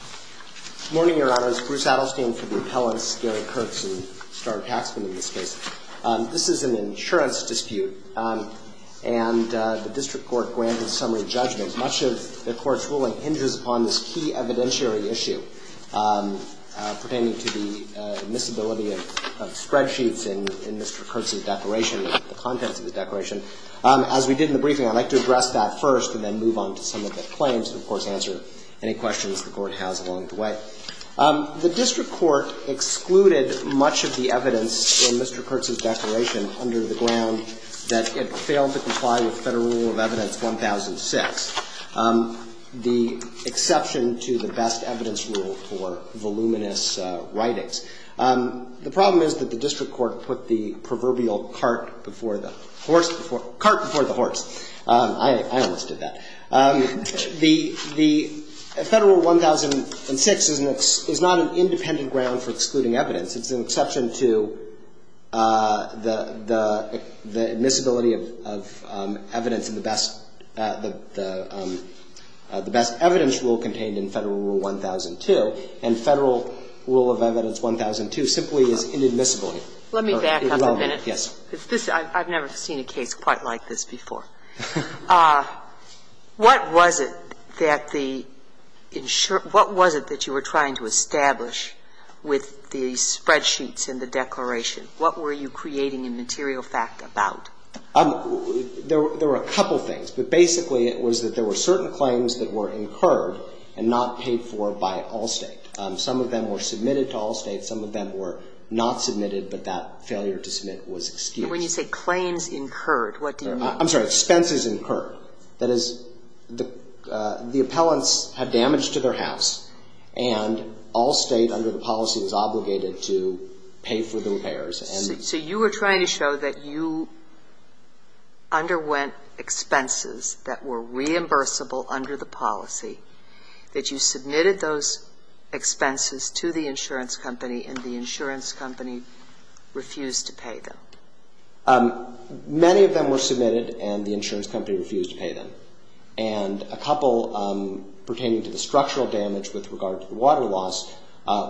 Good morning, Your Honors. Bruce Adelstein for the appellants, Gary Kurtz, and Starr Taxman in this case. This is an insurance dispute, and the District Court granted summary judgment. Much of the Court's ruling hinges upon this key evidentiary issue pertaining to the admissibility of spreadsheets in Mr. Kurtz's declaration, the contents of the declaration. As we did in the briefing, I'd like to address that first and then move on to some of the claims and, of course, answer any questions the Court has along the way. The District Court excluded much of the evidence in Mr. Kurtz's declaration under the ground that it failed to comply with Federal Rule of Evidence 1006, the exception to the best evidence rule for voluminous writings. The problem is that the District Court put the The Federal Rule 1006 is not an independent ground for excluding evidence. It's an exception to the admissibility of evidence in the best evidence rule contained in Federal Rule 1002, and Federal Rule of Evidence 1002 simply is inadmissible here. Let me back up a minute. Yes. I've never seen a case quite like this before. What was it that the ensure – what was it that you were trying to establish with the spreadsheets in the declaration? What were you creating a material fact about? There were a couple of things, but basically it was that there were certain claims that were incurred and not paid for by Allstate. Some of them were submitted to Allstate. Some of them were not submitted, but that failure to submit was excused. When you say claims incurred, what do you mean? I'm sorry. Expenses incurred. That is, the appellants had damage to their house, and Allstate under the policy was obligated to pay for the repairs. So you were trying to show that you underwent expenses that were reimbursable under the policy, that you submitted those expenses to the insurance company, and the insurance company refused to pay them. Many of them were submitted, and the insurance company refused to pay them. And a couple pertaining to the structural damage with regard to the water loss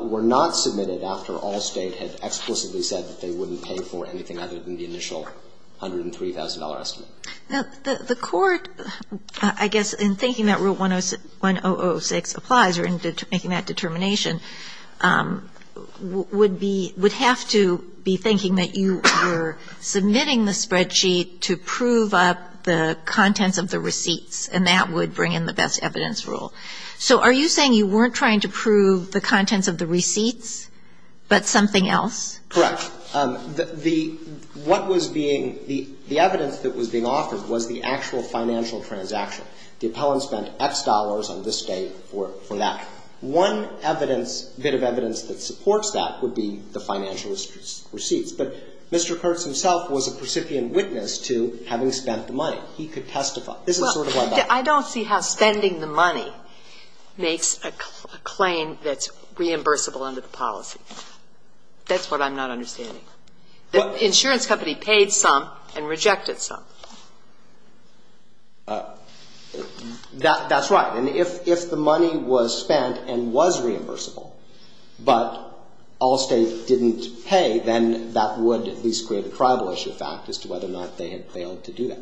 were not submitted after Allstate had explicitly said that they wouldn't pay for anything other than the initial $103,000 estimate. Now, the Court, I guess, in thinking that Rule 1006 applies or in making that determination, would be – would have to be thinking that you were submitting the spreadsheet to prove up the contents of the receipts, and that would bring in the best evidence rule. So are you saying you weren't trying to prove the contents of the receipts, but something else? Correct. The – what was being – the evidence that was being offered was the actual financial transaction. The appellant spent X dollars on this day for that. One evidence – bit of evidence that supports that would be the financial receipts. But Mr. Kurtz himself was a precipient witness to having spent the money. He could testify. This is sort of what I'm saying. Well, I don't see how spending the money makes a claim that's reimbursable under the policy. That's what I'm not understanding. The insurance company paid some and rejected some. That's right. And if the money was spent and was reimbursable, but Allstate didn't pay, then that would at least create a tribal issue fact as to whether or not they had failed to do that.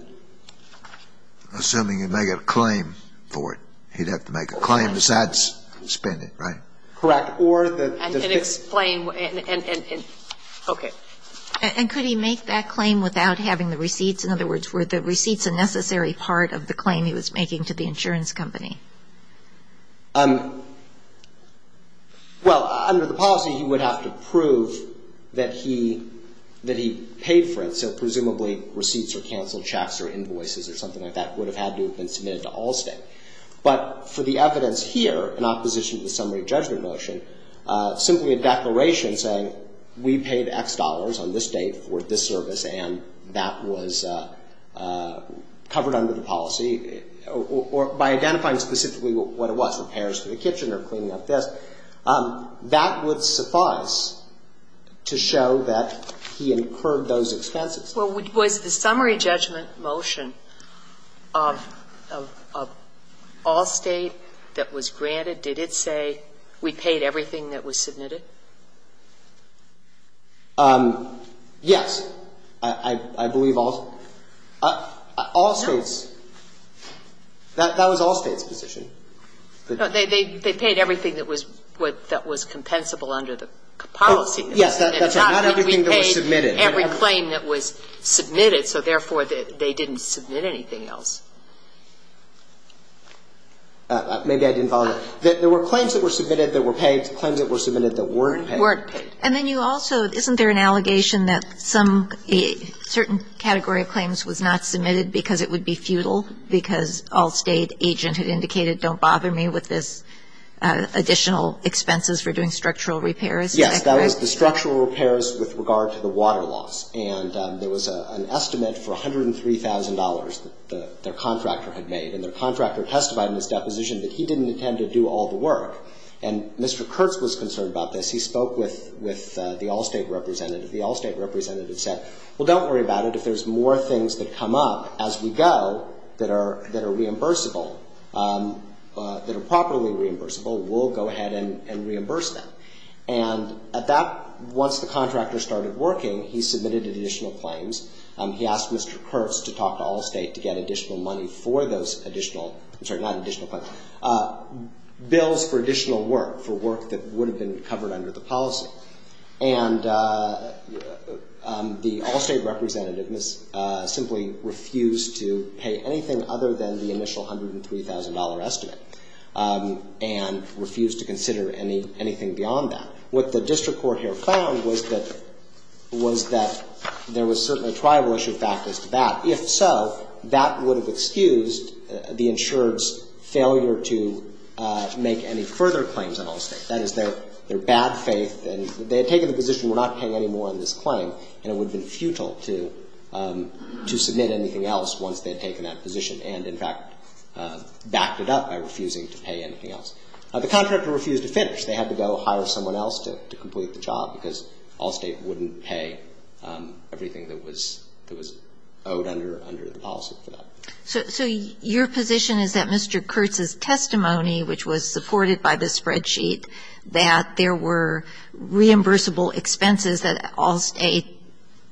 Assuming he'd make a claim for it. He'd have to make a claim besides spend it, right? Correct. Or the – I can explain. Okay. And could he make that claim without having the receipts? In other words, were the receipts a necessary part of the claim he was making to the insurance company? Well, under the policy, he would have to prove that he – that he paid for it. So presumably, receipts or canceled checks or invoices or something like that would have had to have been submitted to Allstate. But for the evidence here, in opposition to the summary judgment motion, simply a declaration saying we paid X dollars on this date for this service and that was covered under the policy, or by identifying specifically what it was, repairs to the kitchen or cleaning up this, that would suffice to show that he incurred those expenses. Well, was the summary judgment motion of Allstate that was granted, did it say we paid everything that was submitted? Yes. I believe Allstate. No. Allstate's. That was Allstate's position. No. They paid everything that was what – that was compensable under the policy. Yes. That's right. Not everything that was submitted. Every claim that was submitted, so therefore, they didn't submit anything else. Maybe I didn't follow that. There were claims that were submitted that were paid, claims that were submitted that weren't paid. Weren't paid. And then you also – isn't there an allegation that some – a certain category of claims was not submitted because it would be futile because Allstate agent had indicated don't bother me with this additional expenses for doing structural repairs. Yes. That was the structural repairs with regard to the water loss. And there was an estimate for $103,000 that their contractor had made. And their contractor testified in his deposition that he didn't intend to do all the work. And Mr. Kurtz was concerned about this. He spoke with the Allstate representative. The Allstate representative said, well, don't worry about it. If there's more things that come up as we go that are reimbursable, that are properly reimbursable, we'll go ahead and reimburse them. And at that – once the contractor started working, he submitted additional claims. He asked Mr. Kurtz to talk to Allstate to get additional money for those additional – I'm sorry, not additional claims – bills for additional work, for work that would have been covered under the policy. And the Allstate representative simply refused to pay anything other than the $103,000. And he refused to consider anything beyond that. What the district court here found was that – was that there was certainly a tribal issue back as to that. If so, that would have excused the insured's failure to make any further claims on Allstate. That is, their bad faith and – they had taken the position we're not paying any more on this claim, and it would have been futile to submit anything else once they had taken that position and, in fact, backed it up by refusing to pay anything else. The contractor refused to finish. They had to go hire someone else to complete the job because Allstate wouldn't pay everything that was – that was owed under the policy for that. So your position is that Mr. Kurtz's testimony, which was supported by this spreadsheet, that there were reimbursable expenses that Allstate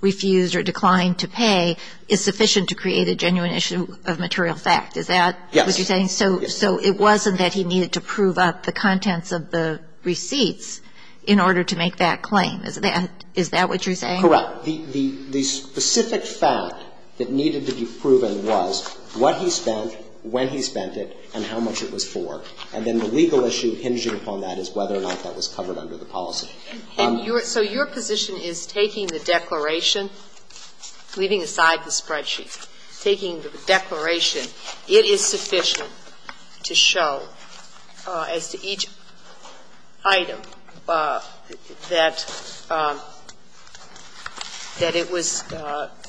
refused or declined to pay is sufficient to create a genuine issue of material fact. Is that what you're saying? Yes. So it wasn't that he needed to prove up the contents of the receipts in order to make that claim. Is that what you're saying? Correct. The specific fact that needed to be proven was what he spent, when he spent it, and how much it was for. And then the legal issue hinging upon that is whether or not that was covered under the policy. So your position is taking the declaration, leaving aside the spreadsheet, taking the declaration, it is sufficient to show as to each item that it was –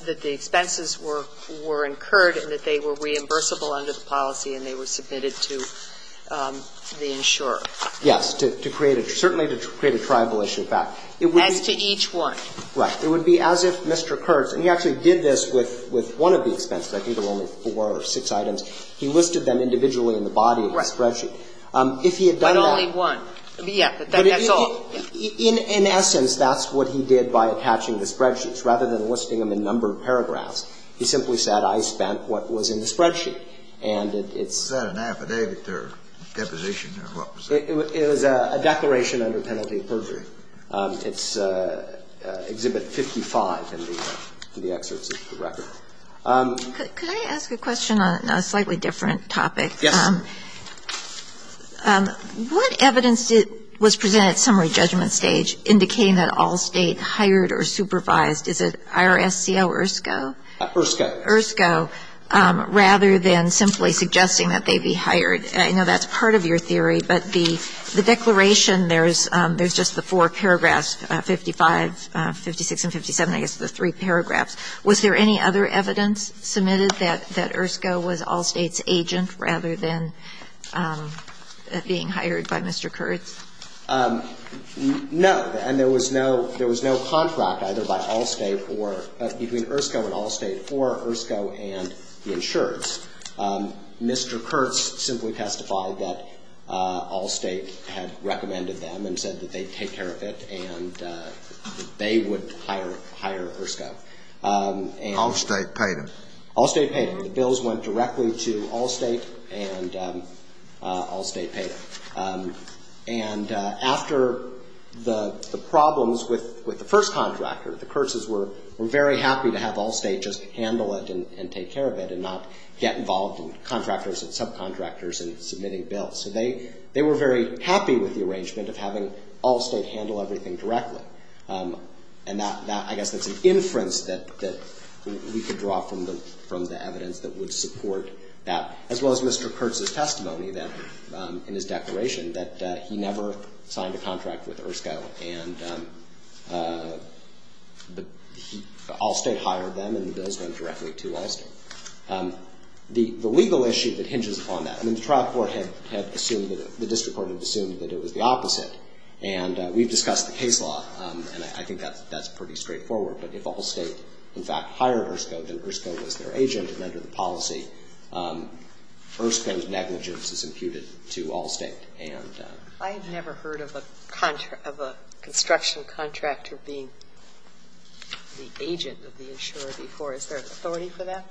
that the expenses were incurred and that they were reimbursable under the policy and they were submitted to the insurer? Yes. To create a – certainly to create a tribal issue of fact. As to each one. Right. It would be as if Mr. Kurtz – and he actually did this with one of the expenses. I think there were only four or six items. He listed them individually in the body of the spreadsheet. Right. If he had done that – But only one. Yeah. But that's all. In essence, that's what he did by attaching the spreadsheets. Rather than listing them in a number of paragraphs, he simply said, I spent what was in the spreadsheet. And it's – Was that an affidavit or deposition or what was that? It was a declaration under penalty of perjury. It's Exhibit 55 in the excerpts of the record. Could I ask a question on a slightly different topic? Yes. What evidence was presented at summary judgment stage indicating that all State hired or supervised? Is it IRS, CO, or ISCO? ISCO. ISCO, rather than simply suggesting that they be hired. I know that's part of your theory, but the declaration, there's just the four paragraphs, 55, 56, and 57, I guess, the three paragraphs. Was there any other evidence submitted that IRSCO was all State's agent rather than being hired by Mr. Kurtz? No. And there was no – there was no contract either by all State or – between IRSCO and the insurance. Mr. Kurtz simply testified that all State had recommended them and said that they'd take care of it and they would hire – hire IRSCO. All State paid him. All State paid him. The bills went directly to all State and all State paid him. And after the problems with the first contractor, the Kurtzes were very happy to have all State handle everything directly. And that, I guess, that's an inference that we could draw from the evidence that would support that, as well as Mr. Kurtz's testimony that – in his declaration that he never signed a contract with IRSCO and all State hired them and the bills went directly to them. The legal issue that hinges upon that – I mean, the trial court had assumed that – the district court had assumed that it was the opposite. And we've discussed the case law, and I think that's pretty straightforward. But if all State, in fact, hired IRSCO, then IRSCO was their agent, and under the policy, IRSCO's negligence is imputed to all State. And – I have never heard of a construction contractor being the agent of the insurer before. Is there authority for that?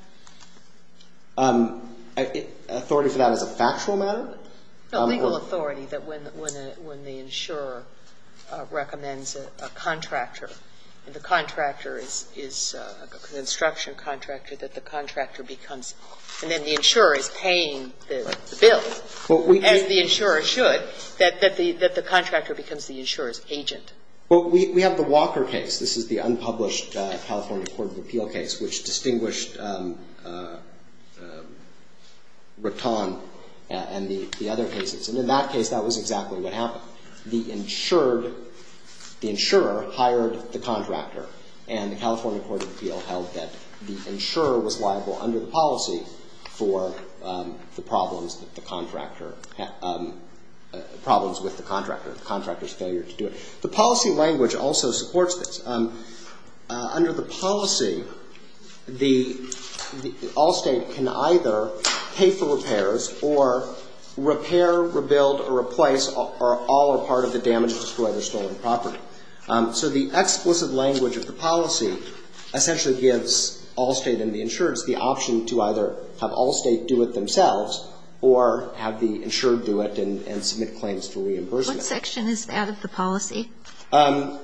Authority for that as a factual matter? No, legal authority that when the insurer recommends a contractor, and the contractor is a construction contractor, that the contractor becomes – and then the insurer is paying the bill, as the insurer should, that the contractor becomes the insurer's agent. Well, we have the Walker case. This is the unpublished California Court of Appeal case, which distinguished Recton and the other cases. And in that case, that was exactly what happened. The insured – the insurer hired the contractor, and the California Court of Appeal held that the insurer was liable under the policy for the problems that the contractor – problems with the contractor, the contractor's failure to do it. The policy language also supports this. Under the policy, the – all State can either pay for repairs or repair, rebuild, or replace, or all are part of the damage to destroy their stolen property. So the explicit language of the policy essentially gives all State and the insurers the option to either have all State do it themselves or have the insured do it and submit claims for reimbursement. What section is out of the policy? I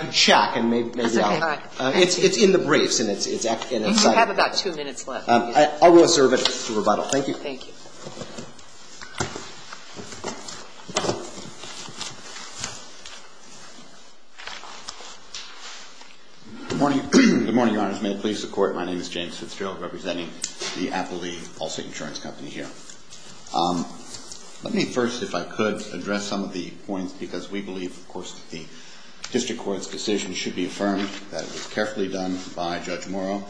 could check and maybe I'll – That's okay. All right. It's in the briefs, and it's – And you have about two minutes left. I will reserve it for rebuttal. Thank you. Thank you. Good morning. Good morning, Your Honors. May the police, the Court, my name is James Let me first, if I could, address some of the points, because we believe, of course, that the district court's decision should be affirmed, that it was carefully done by Judge Morrow.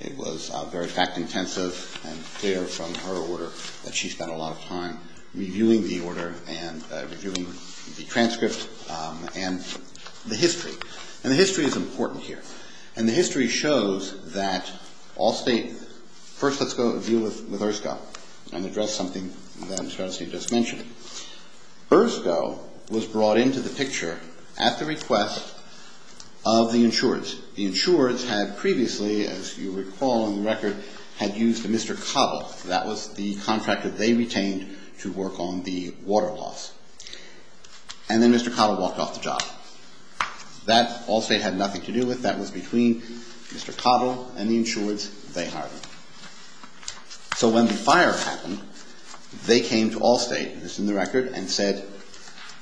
It was very fact-intensive and clear from her order that she spent a lot of time reviewing the order and reviewing the transcript and the history. And the history is important here. And the history shows that all State – first, let's go to view with ERSCO and address something that Mr. Arnstein just mentioned. ERSCO was brought into the picture at the request of the insureds. The insureds had previously, as you recall in the record, had used a Mr. Cottle. That was the contractor they retained to work on the water loss. And then Mr. Cottle walked off the job. That all State had nothing to do with. That was between Mr. Cottle and the insureds. They hired him. So when the fire happened, they came to all State, this is in the record, and said,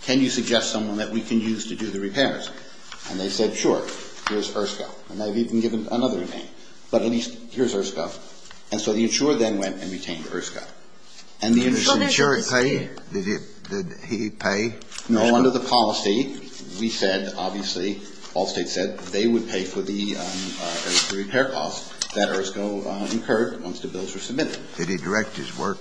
can you suggest someone that we can use to do the repairs? And they said, sure, here's ERSCO. And they've even given another name. But at least here's ERSCO. And so the insurer then went and retained ERSCO. And the insurer paid? Did he pay? No. Under the policy, we said, obviously, all State said they would pay for the repair costs that ERSCO incurred once the bills were submitted. Did he direct his work?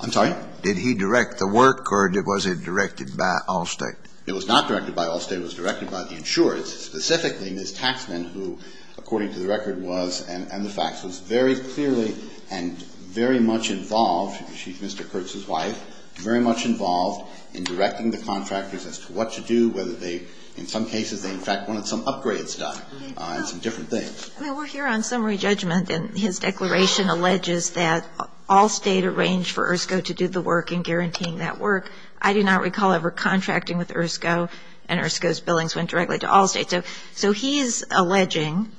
I'm sorry? Did he direct the work, or was it directed by all State? It was not directed by all State. It was directed by the insureds, specifically Ms. Taxman, who, according to the record was, and the facts, was very clearly and very much involved, she's Mr. Kurtz's wife, very much involved in directing the contractors as to what to do, whether they, in some cases, they in fact wanted some upgrades done and some different things. Well, we're here on summary judgment, and his declaration alleges that all State arranged for ERSCO to do the work in guaranteeing that work. I do not recall ever contracting with ERSCO, and ERSCO's billings went directly to all State. So he's alleging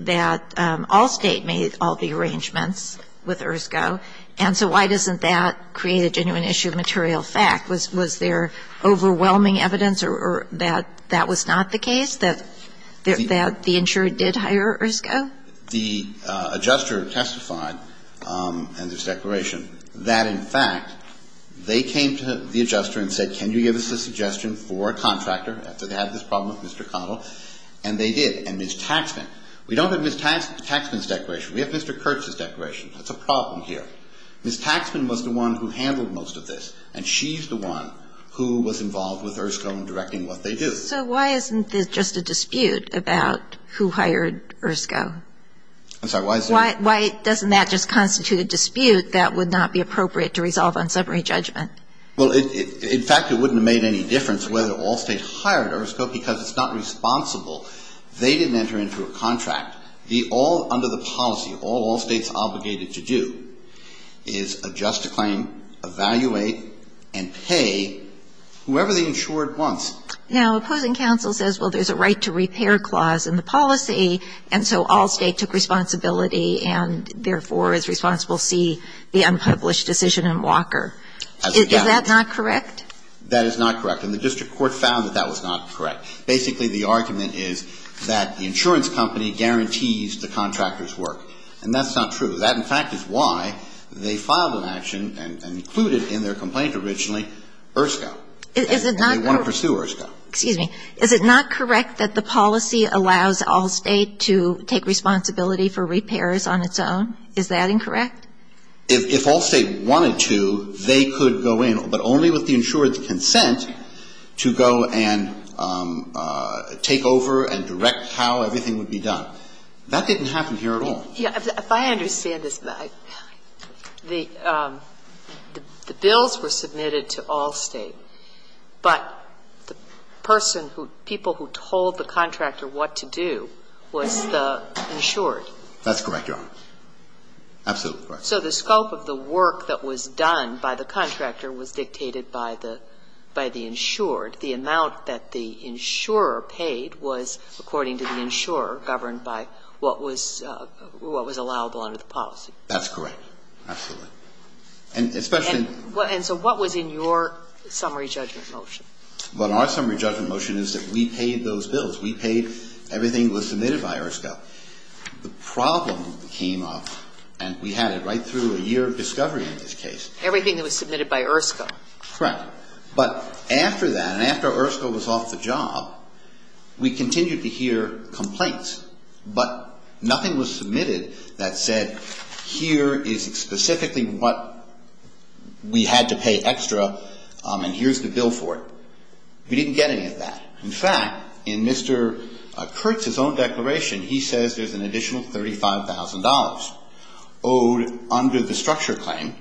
that all State made all the arrangements with ERSCO, and so why doesn't that create a genuine issue of material fact? Was there overwhelming evidence that that was not the case, that the insured did hire ERSCO? The adjuster testified in this declaration that, in fact, they came to the adjuster and said, can you give us a suggestion for a contractor, after they had this problem with Mr. Connell, and they did, and Ms. Taxman. We don't have Ms. Taxman's declaration. We have Mr. Kurtz's declaration. That's a problem here. Ms. Taxman was the one who handled most of this, and she's the one who was involved with ERSCO in directing what they do. So why isn't this just a dispute about who hired ERSCO? I'm sorry, why is it? Why doesn't that just constitute a dispute that would not be appropriate to resolve on summary judgment? Well, in fact, it wouldn't have made any difference whether all State hired ERSCO because it's not responsible. They didn't enter into a contract. Under the policy, all all State's obligated to do is adjust a claim, evaluate, and pay whoever the insured wants. Now, opposing counsel says, well, there's a right to repair clause in the policy, and so all State took responsibility and, therefore, is responsible, see, the unpublished decision in Walker. Is that not correct? That is not correct. And the district court found that that was not correct. Basically, the argument is that the insurance company guarantees the contractor's work. And that's not true. That, in fact, is why they filed an action and included in their complaint originally ERSCO. Is it not correct And they want to pursue ERSCO. Excuse me. Is it not correct that the policy allows all State to take responsibility for repairs on its own? Is that incorrect? If all State wanted to, they could go in, but only with the insured's consent to go and take over and direct how everything would be done. That didn't happen here at all. Yeah. If I understand this, the bills were submitted to all State, but the person who, people who told the contractor what to do was the insured. That's correct, Your Honor. Absolutely correct. So the scope of the work that was done by the contractor was dictated by the insured. The amount that the insurer paid was, according to the insurer, governed by what was allowable under the policy. That's correct. Absolutely. And especially And so what was in your summary judgment motion? Well, in our summary judgment motion is that we paid those bills. We paid everything that was submitted by ERSCO. The problem came up, and we had it right through a year of discovery in this case. Everything that was submitted by ERSCO. Correct. But after that, and after ERSCO was off the job, we continued to hear complaints. But nothing was submitted that said, here is specifically what we had to pay extra, and here's the bill for it. We didn't get any of that. In fact, in Mr. Kurtz's own declaration, he says there's an additional $35,000 owed under the structure claim,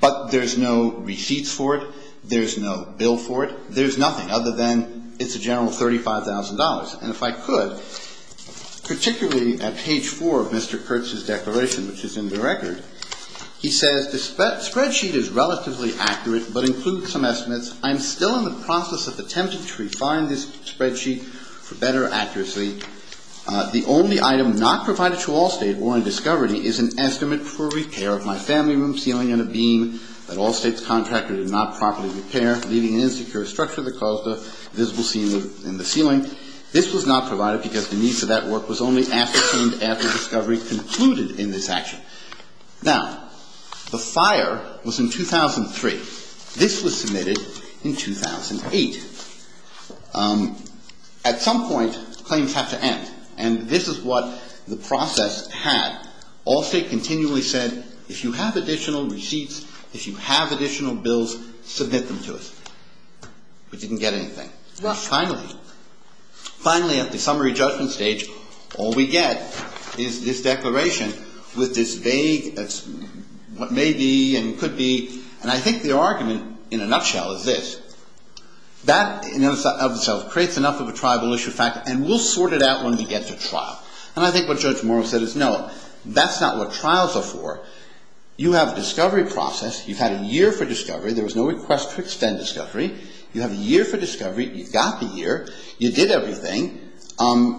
but there's no receipts for it, there's no bill for it, there's nothing other than it's a general $35,000. And if I could, particularly at page 4 of Mr. Kurtz's declaration, which is in the record, he says the spreadsheet is relatively accurate, but includes some estimates. I'm still in the process of attempting to refine this spreadsheet for better accuracy. The only item not provided to Allstate or in discovery is an estimate for repair of my family room ceiling and a beam that Allstate's contractor did not properly repair, leaving an insecure structure that caused a visible seam in the ceiling. This was not provided because the needs of that work was only ascertained after discovery concluded in this action. Now, the fire was in 2003. This was submitted in 2008. At some point, claims have to end. And this is what the process had. Allstate continually said, if you have additional receipts, if you have additional bills, submit them to us. We didn't get anything. Finally, at the summary judgment stage, all we get is this declaration with this vague what may be and could be. And I think the argument, in a nutshell, is this. That in and of itself creates enough of a tribal issue factor, and we'll sort it out when we get to trial. And I think what Judge Morrow said is, no, that's not what trials are for. You have a discovery process. You've had a year for discovery. There was no request to extend discovery. You have a year for discovery. You've got the year. You did everything.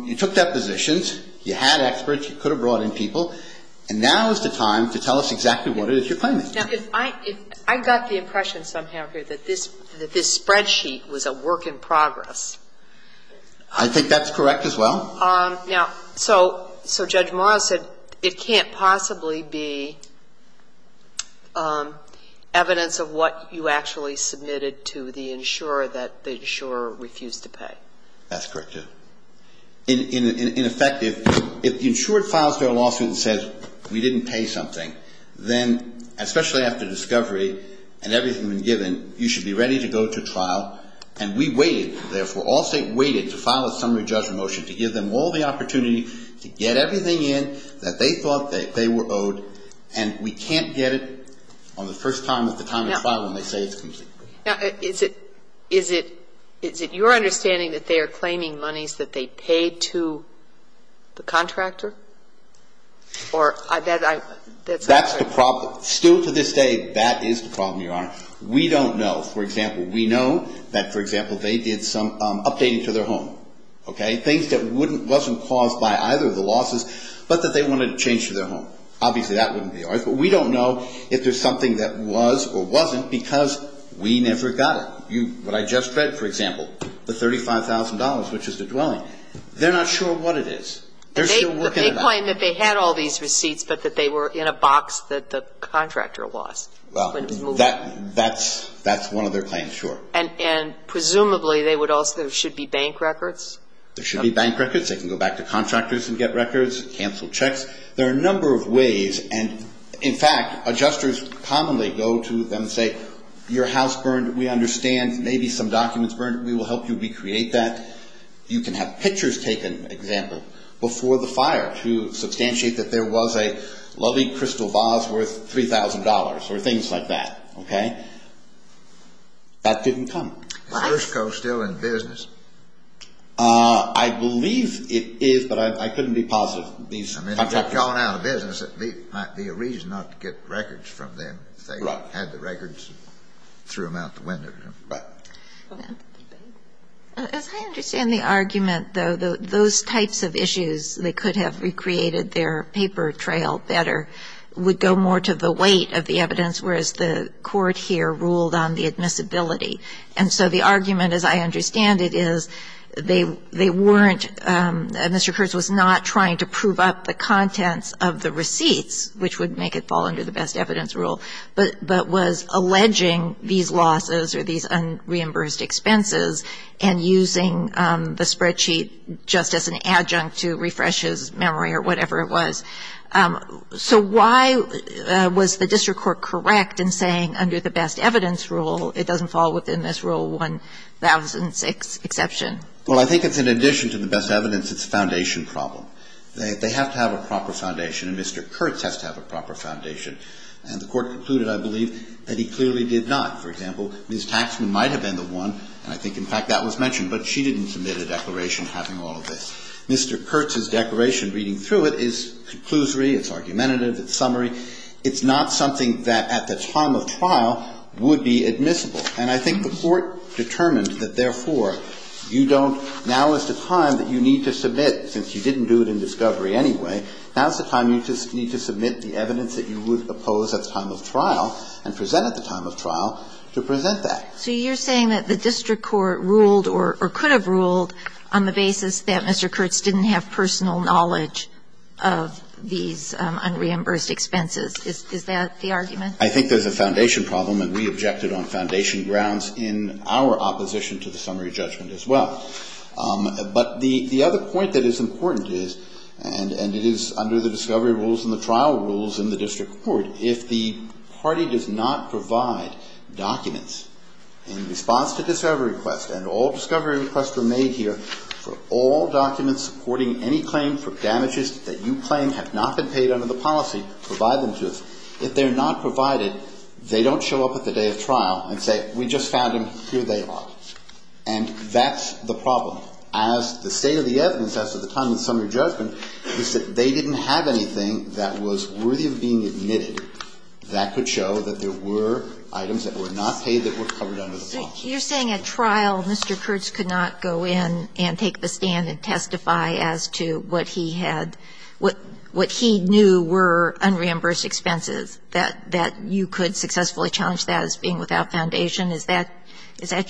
You took depositions. You had experts. You could have brought in people. And now is the time to tell us exactly what it is you're claiming. Now, if I got the impression somehow here that this spreadsheet was a work in progress. I think that's correct as well. Now, so Judge Morrow said it can't possibly be evidence of what you actually submitted to the insurer that the insurer refused to pay. That's correct, too. In effect, if the insurer files their lawsuit and says we didn't pay something, then especially after discovery and everything has been given, you should be ready to go to trial. And we waited, therefore, all State waited to file a preliminary judgment motion to give them all the opportunity to get everything in that they thought they were owed, and we can't get it on the first time at the time of the trial when they say it's confusing. Now, is it your understanding that they are claiming monies that they paid to the contractor? Or that's not correct? That's the problem. Still to this day, that is the problem, Your Honor. We don't know. For example, we know that, for example, they did some updating to their home, okay, things that wasn't caused by either of the losses, but that they wanted to change to their home. Obviously, that wouldn't be ours. But we don't know if there's something that was or wasn't because we never got it. What I just read, for example, the $35,000, which is the dwelling, they're not sure what it is. They're still working on it. They claim that they had all these receipts, but that they were in a box that the contractor lost when it was moved. So that's one of their claims, sure. And presumably, there should be bank records? There should be bank records. They can go back to contractors and get records, cancel checks. There are a number of ways. And in fact, adjusters commonly go to them and say, your house burned. We understand. Maybe some documents burned. We will help you recreate that. You can have pictures taken, for example, before the fire to substantiate that there was a lovely crystal vase worth $3,000 or things like that. Okay? That didn't come. Is Versco still in business? I believe it is, but I couldn't be positive. I mean, if it's gone out of business, it might be a reason not to get records from them if they had the records and threw them out the window. As I understand the argument, though, those types of issues, they could have recreated their paper trail better, would go more to the weight of the evidence, whereas the Court here ruled on the admissibility. And so the argument, as I understand it, is they weren't Mr. Kurtz was not trying to prove up the contents of the receipts, which would make it fall under the best evidence rule, but was alleging these losses or these unreimbursed expenses and using the spreadsheet just as an adjunct to refresh his memory of what happened So why was the district court correct in saying under the best evidence rule, it doesn't fall within this rule 1006 exception? Well, I think it's in addition to the best evidence, it's a foundation problem. They have to have a proper foundation, and Mr. Kurtz has to have a proper foundation. And the Court concluded, I believe, that he clearly did not. For example, Ms. Taxman might have been the one, and I think in fact that was mentioned, but she didn't submit a declaration having all of this. Mr. Kurtz's declaration reading through it is conclusory, it's argumentative, it's summary. It's not something that at the time of trial would be admissible. And I think the Court determined that, therefore, you don't – now is the time that you need to submit, since you didn't do it in discovery anyway, now is the time you need to submit the evidence that you would oppose at the time of trial and present at the time of trial to present that. So you're saying that the district court ruled or could have ruled on the basis that Mr. Kurtz didn't have personal knowledge of these unreimbursed expenses. Is that the argument? I think there's a foundation problem, and we objected on foundation grounds in our opposition to the summary judgment as well. But the other point that is important is, and it is under the discovery rules and the trial rules in the district court, if the party does not provide documents in response to discovery requests, and all discovery requests were made here for all documents supporting any claim for damages that you claim have not been paid under the policy, provide them to us. If they're not provided, they don't show up at the day of trial and say, we just found them, here they are. And that's the problem. As the state of the evidence at the time of the summary judgment is that they didn't have anything that was worthy of being admitted that could show that there were items that were not paid that were covered under the policy. So you're saying at trial Mr. Kurtz could not go in and take the stand and testify as to what he had, what he knew were unreimbursed expenses, that you could successfully challenge that as being without foundation? Is that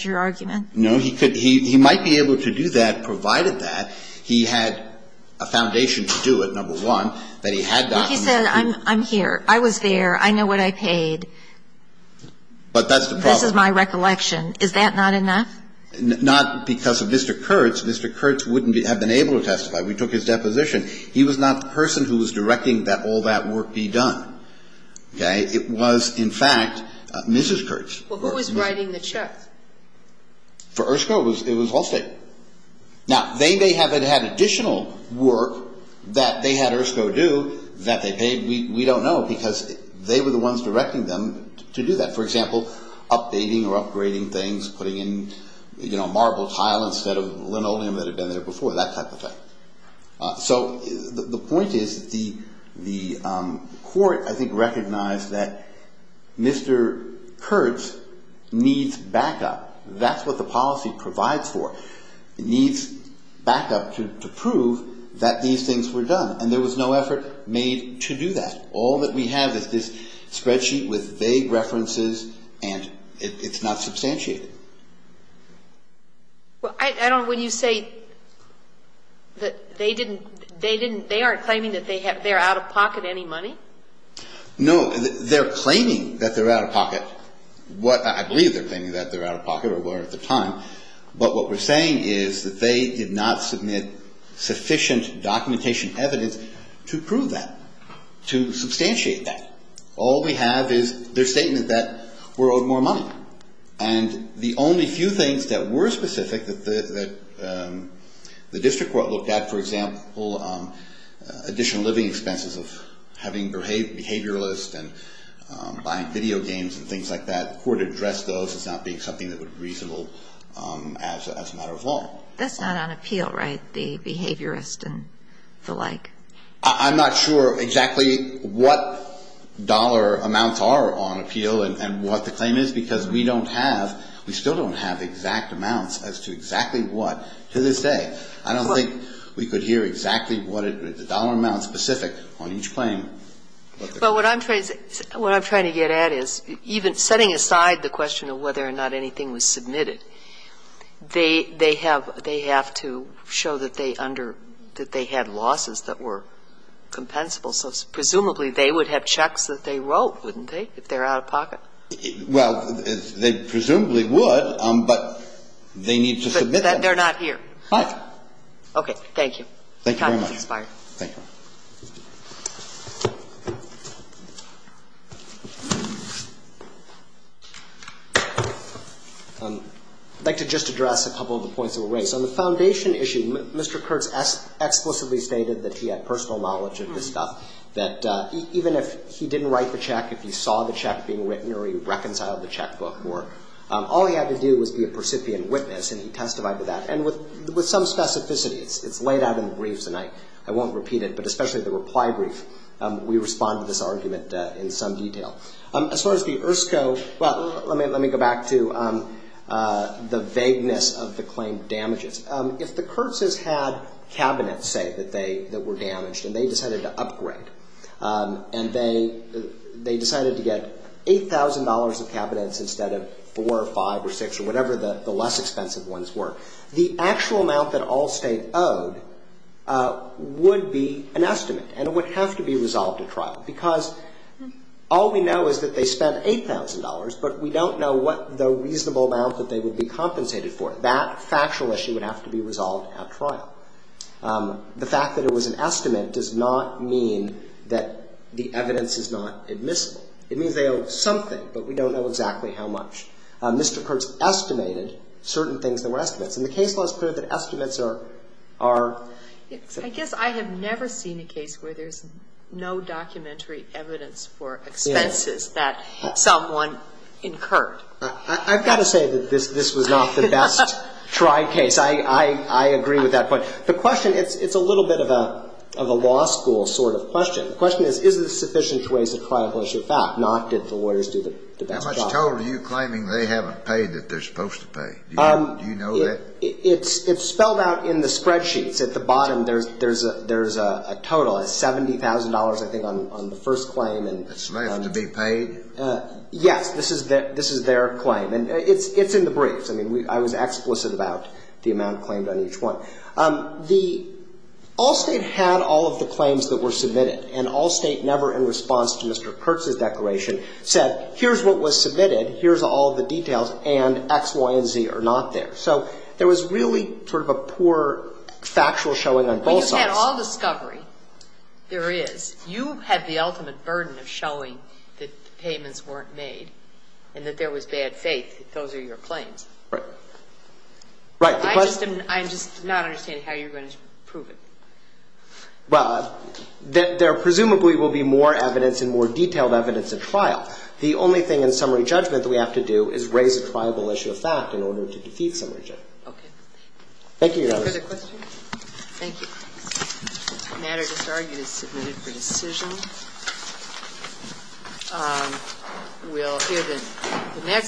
your argument? No. He might be able to do that, provided that he had a foundation to do it, number one, that he had documents. But he said, I'm here. I was there. I know what I paid. But that's the problem. This is my recollection. Is that not enough? Not because of Mr. Kurtz. Mr. Kurtz wouldn't have been able to testify. We took his deposition. He was not the person who was directing that all that work be done. Okay? It was, in fact, Mrs. Kurtz. Well, who was writing the check? For ERSCO, it was Allstate. Now, they may have had additional work that they had ERSCO do that they paid. We don't know, because they were the ones directing them to do that. For example, updating or upgrading things, putting in marble tile instead of linoleum that had been there before, that type of thing. So the point is that the court, I think, recognized that Mr. Kurtz needs backup. That's what the policy provides for. It needs backup to prove that these things were done. And there was no effort made to do that. All that we have is this spreadsheet with vague references, and it's not substantiated. Well, I don't know when you say that they didn't they aren't claiming that they're out of pocket any money? No. They're claiming that they're out of pocket. I believe they're claiming that they're out of pocket or were at the time. But what we're saying is that they did not submit sufficient documentation and evidence to prove that, to substantiate that. All we have is their statement that we're owed more money. And the only few things that were specific that the district court looked at, for example, additional living expenses of having behavioralists and buying video games and things like that, the court addressed those as not being something that would be reasonable as a matter of law. That's not on appeal, right? The behaviorists and the like. I'm not sure exactly what dollar amounts are on appeal and what the claim is, because we don't have, we still don't have exact amounts as to exactly what, to this day. I don't think we could hear exactly what the dollar amounts specific on each claim. But what I'm trying to get at is even setting aside the question of whether or not anything was submitted, they have to show that they under, that they had losses that were compensable. So presumably they would have checks that they wrote, wouldn't they, if they're out of pocket? Well, they presumably would, but they need to submit them. But they're not here. Right. Okay. Thank you. Thank you very much. Time is expired. Thank you. I'd like to just address a couple of the points of array. So on the foundation issue, Mr. Kurtz explicitly stated that he had personal knowledge of this stuff, that even if he didn't write the check, if he saw the check being written or he reconciled the checkbook or, all he had to do was be a percipient witness, and he testified to that. And with some specificities. It's laid out in the briefs, and I won't repeat it. But especially the reply brief, we respond to this argument in some detail. As far as the ERSCO, well, let me go back to the vagueness of the claim damages. If the Kurtzes had cabinets, say, that they, that were damaged, and they decided to upgrade, and they decided to get $8,000 of cabinets instead of four or five or six or whatever the less expensive ones were, the actual amount that all State owed would be an estimate, and it would have to be resolved at trial. Because all we know is that they spent $8,000, but we don't know what the reasonable amount that they would be compensated for. That factual issue would have to be resolved at trial. The fact that it was an estimate does not mean that the evidence is not admissible. It means they owe something, but we don't know exactly how much. Mr. Kurtz estimated certain things that were estimates. And the case law is clear that estimates are the same. I guess I have never seen a case where there's no documentary evidence for expenses that someone incurred. I've got to say that this was not the best tried case. I agree with that point. The question, it's a little bit of a law school sort of question. The question is, is this sufficient to raise a trial of lesser fact, not did the lawyers do the best job? How much total are you claiming they haven't paid that they're supposed to pay? Do you know that? It's spelled out in the spreadsheets. At the bottom, there's a total of $70,000, I think, on the first claim. It's raised to be paid? Yes. This is their claim. And it's in the briefs. I mean, I was explicit about the amount claimed on each one. The Allstate had all of the claims that were submitted, and Allstate, never in response to Mr. Kurtz's declaration, said, here's what was submitted, here's all the details, and X, Y, and Z are not there. So there was really sort of a poor factual showing on both sides. But you had all discovery. There is. You had the ultimate burden of showing that the payments weren't made and that there was bad faith. Those are your claims. Right. Right. I'm just not understanding how you're going to prove it. Well, there presumably will be more evidence and more detailed evidence at trial. The only thing in summary judgment that we have to do is raise a trial of a lesser factual fact in order to defeat some judgment. Okay. Thank you, Your Honor. Further questions? Thank you. The matter disargued is submitted for decision.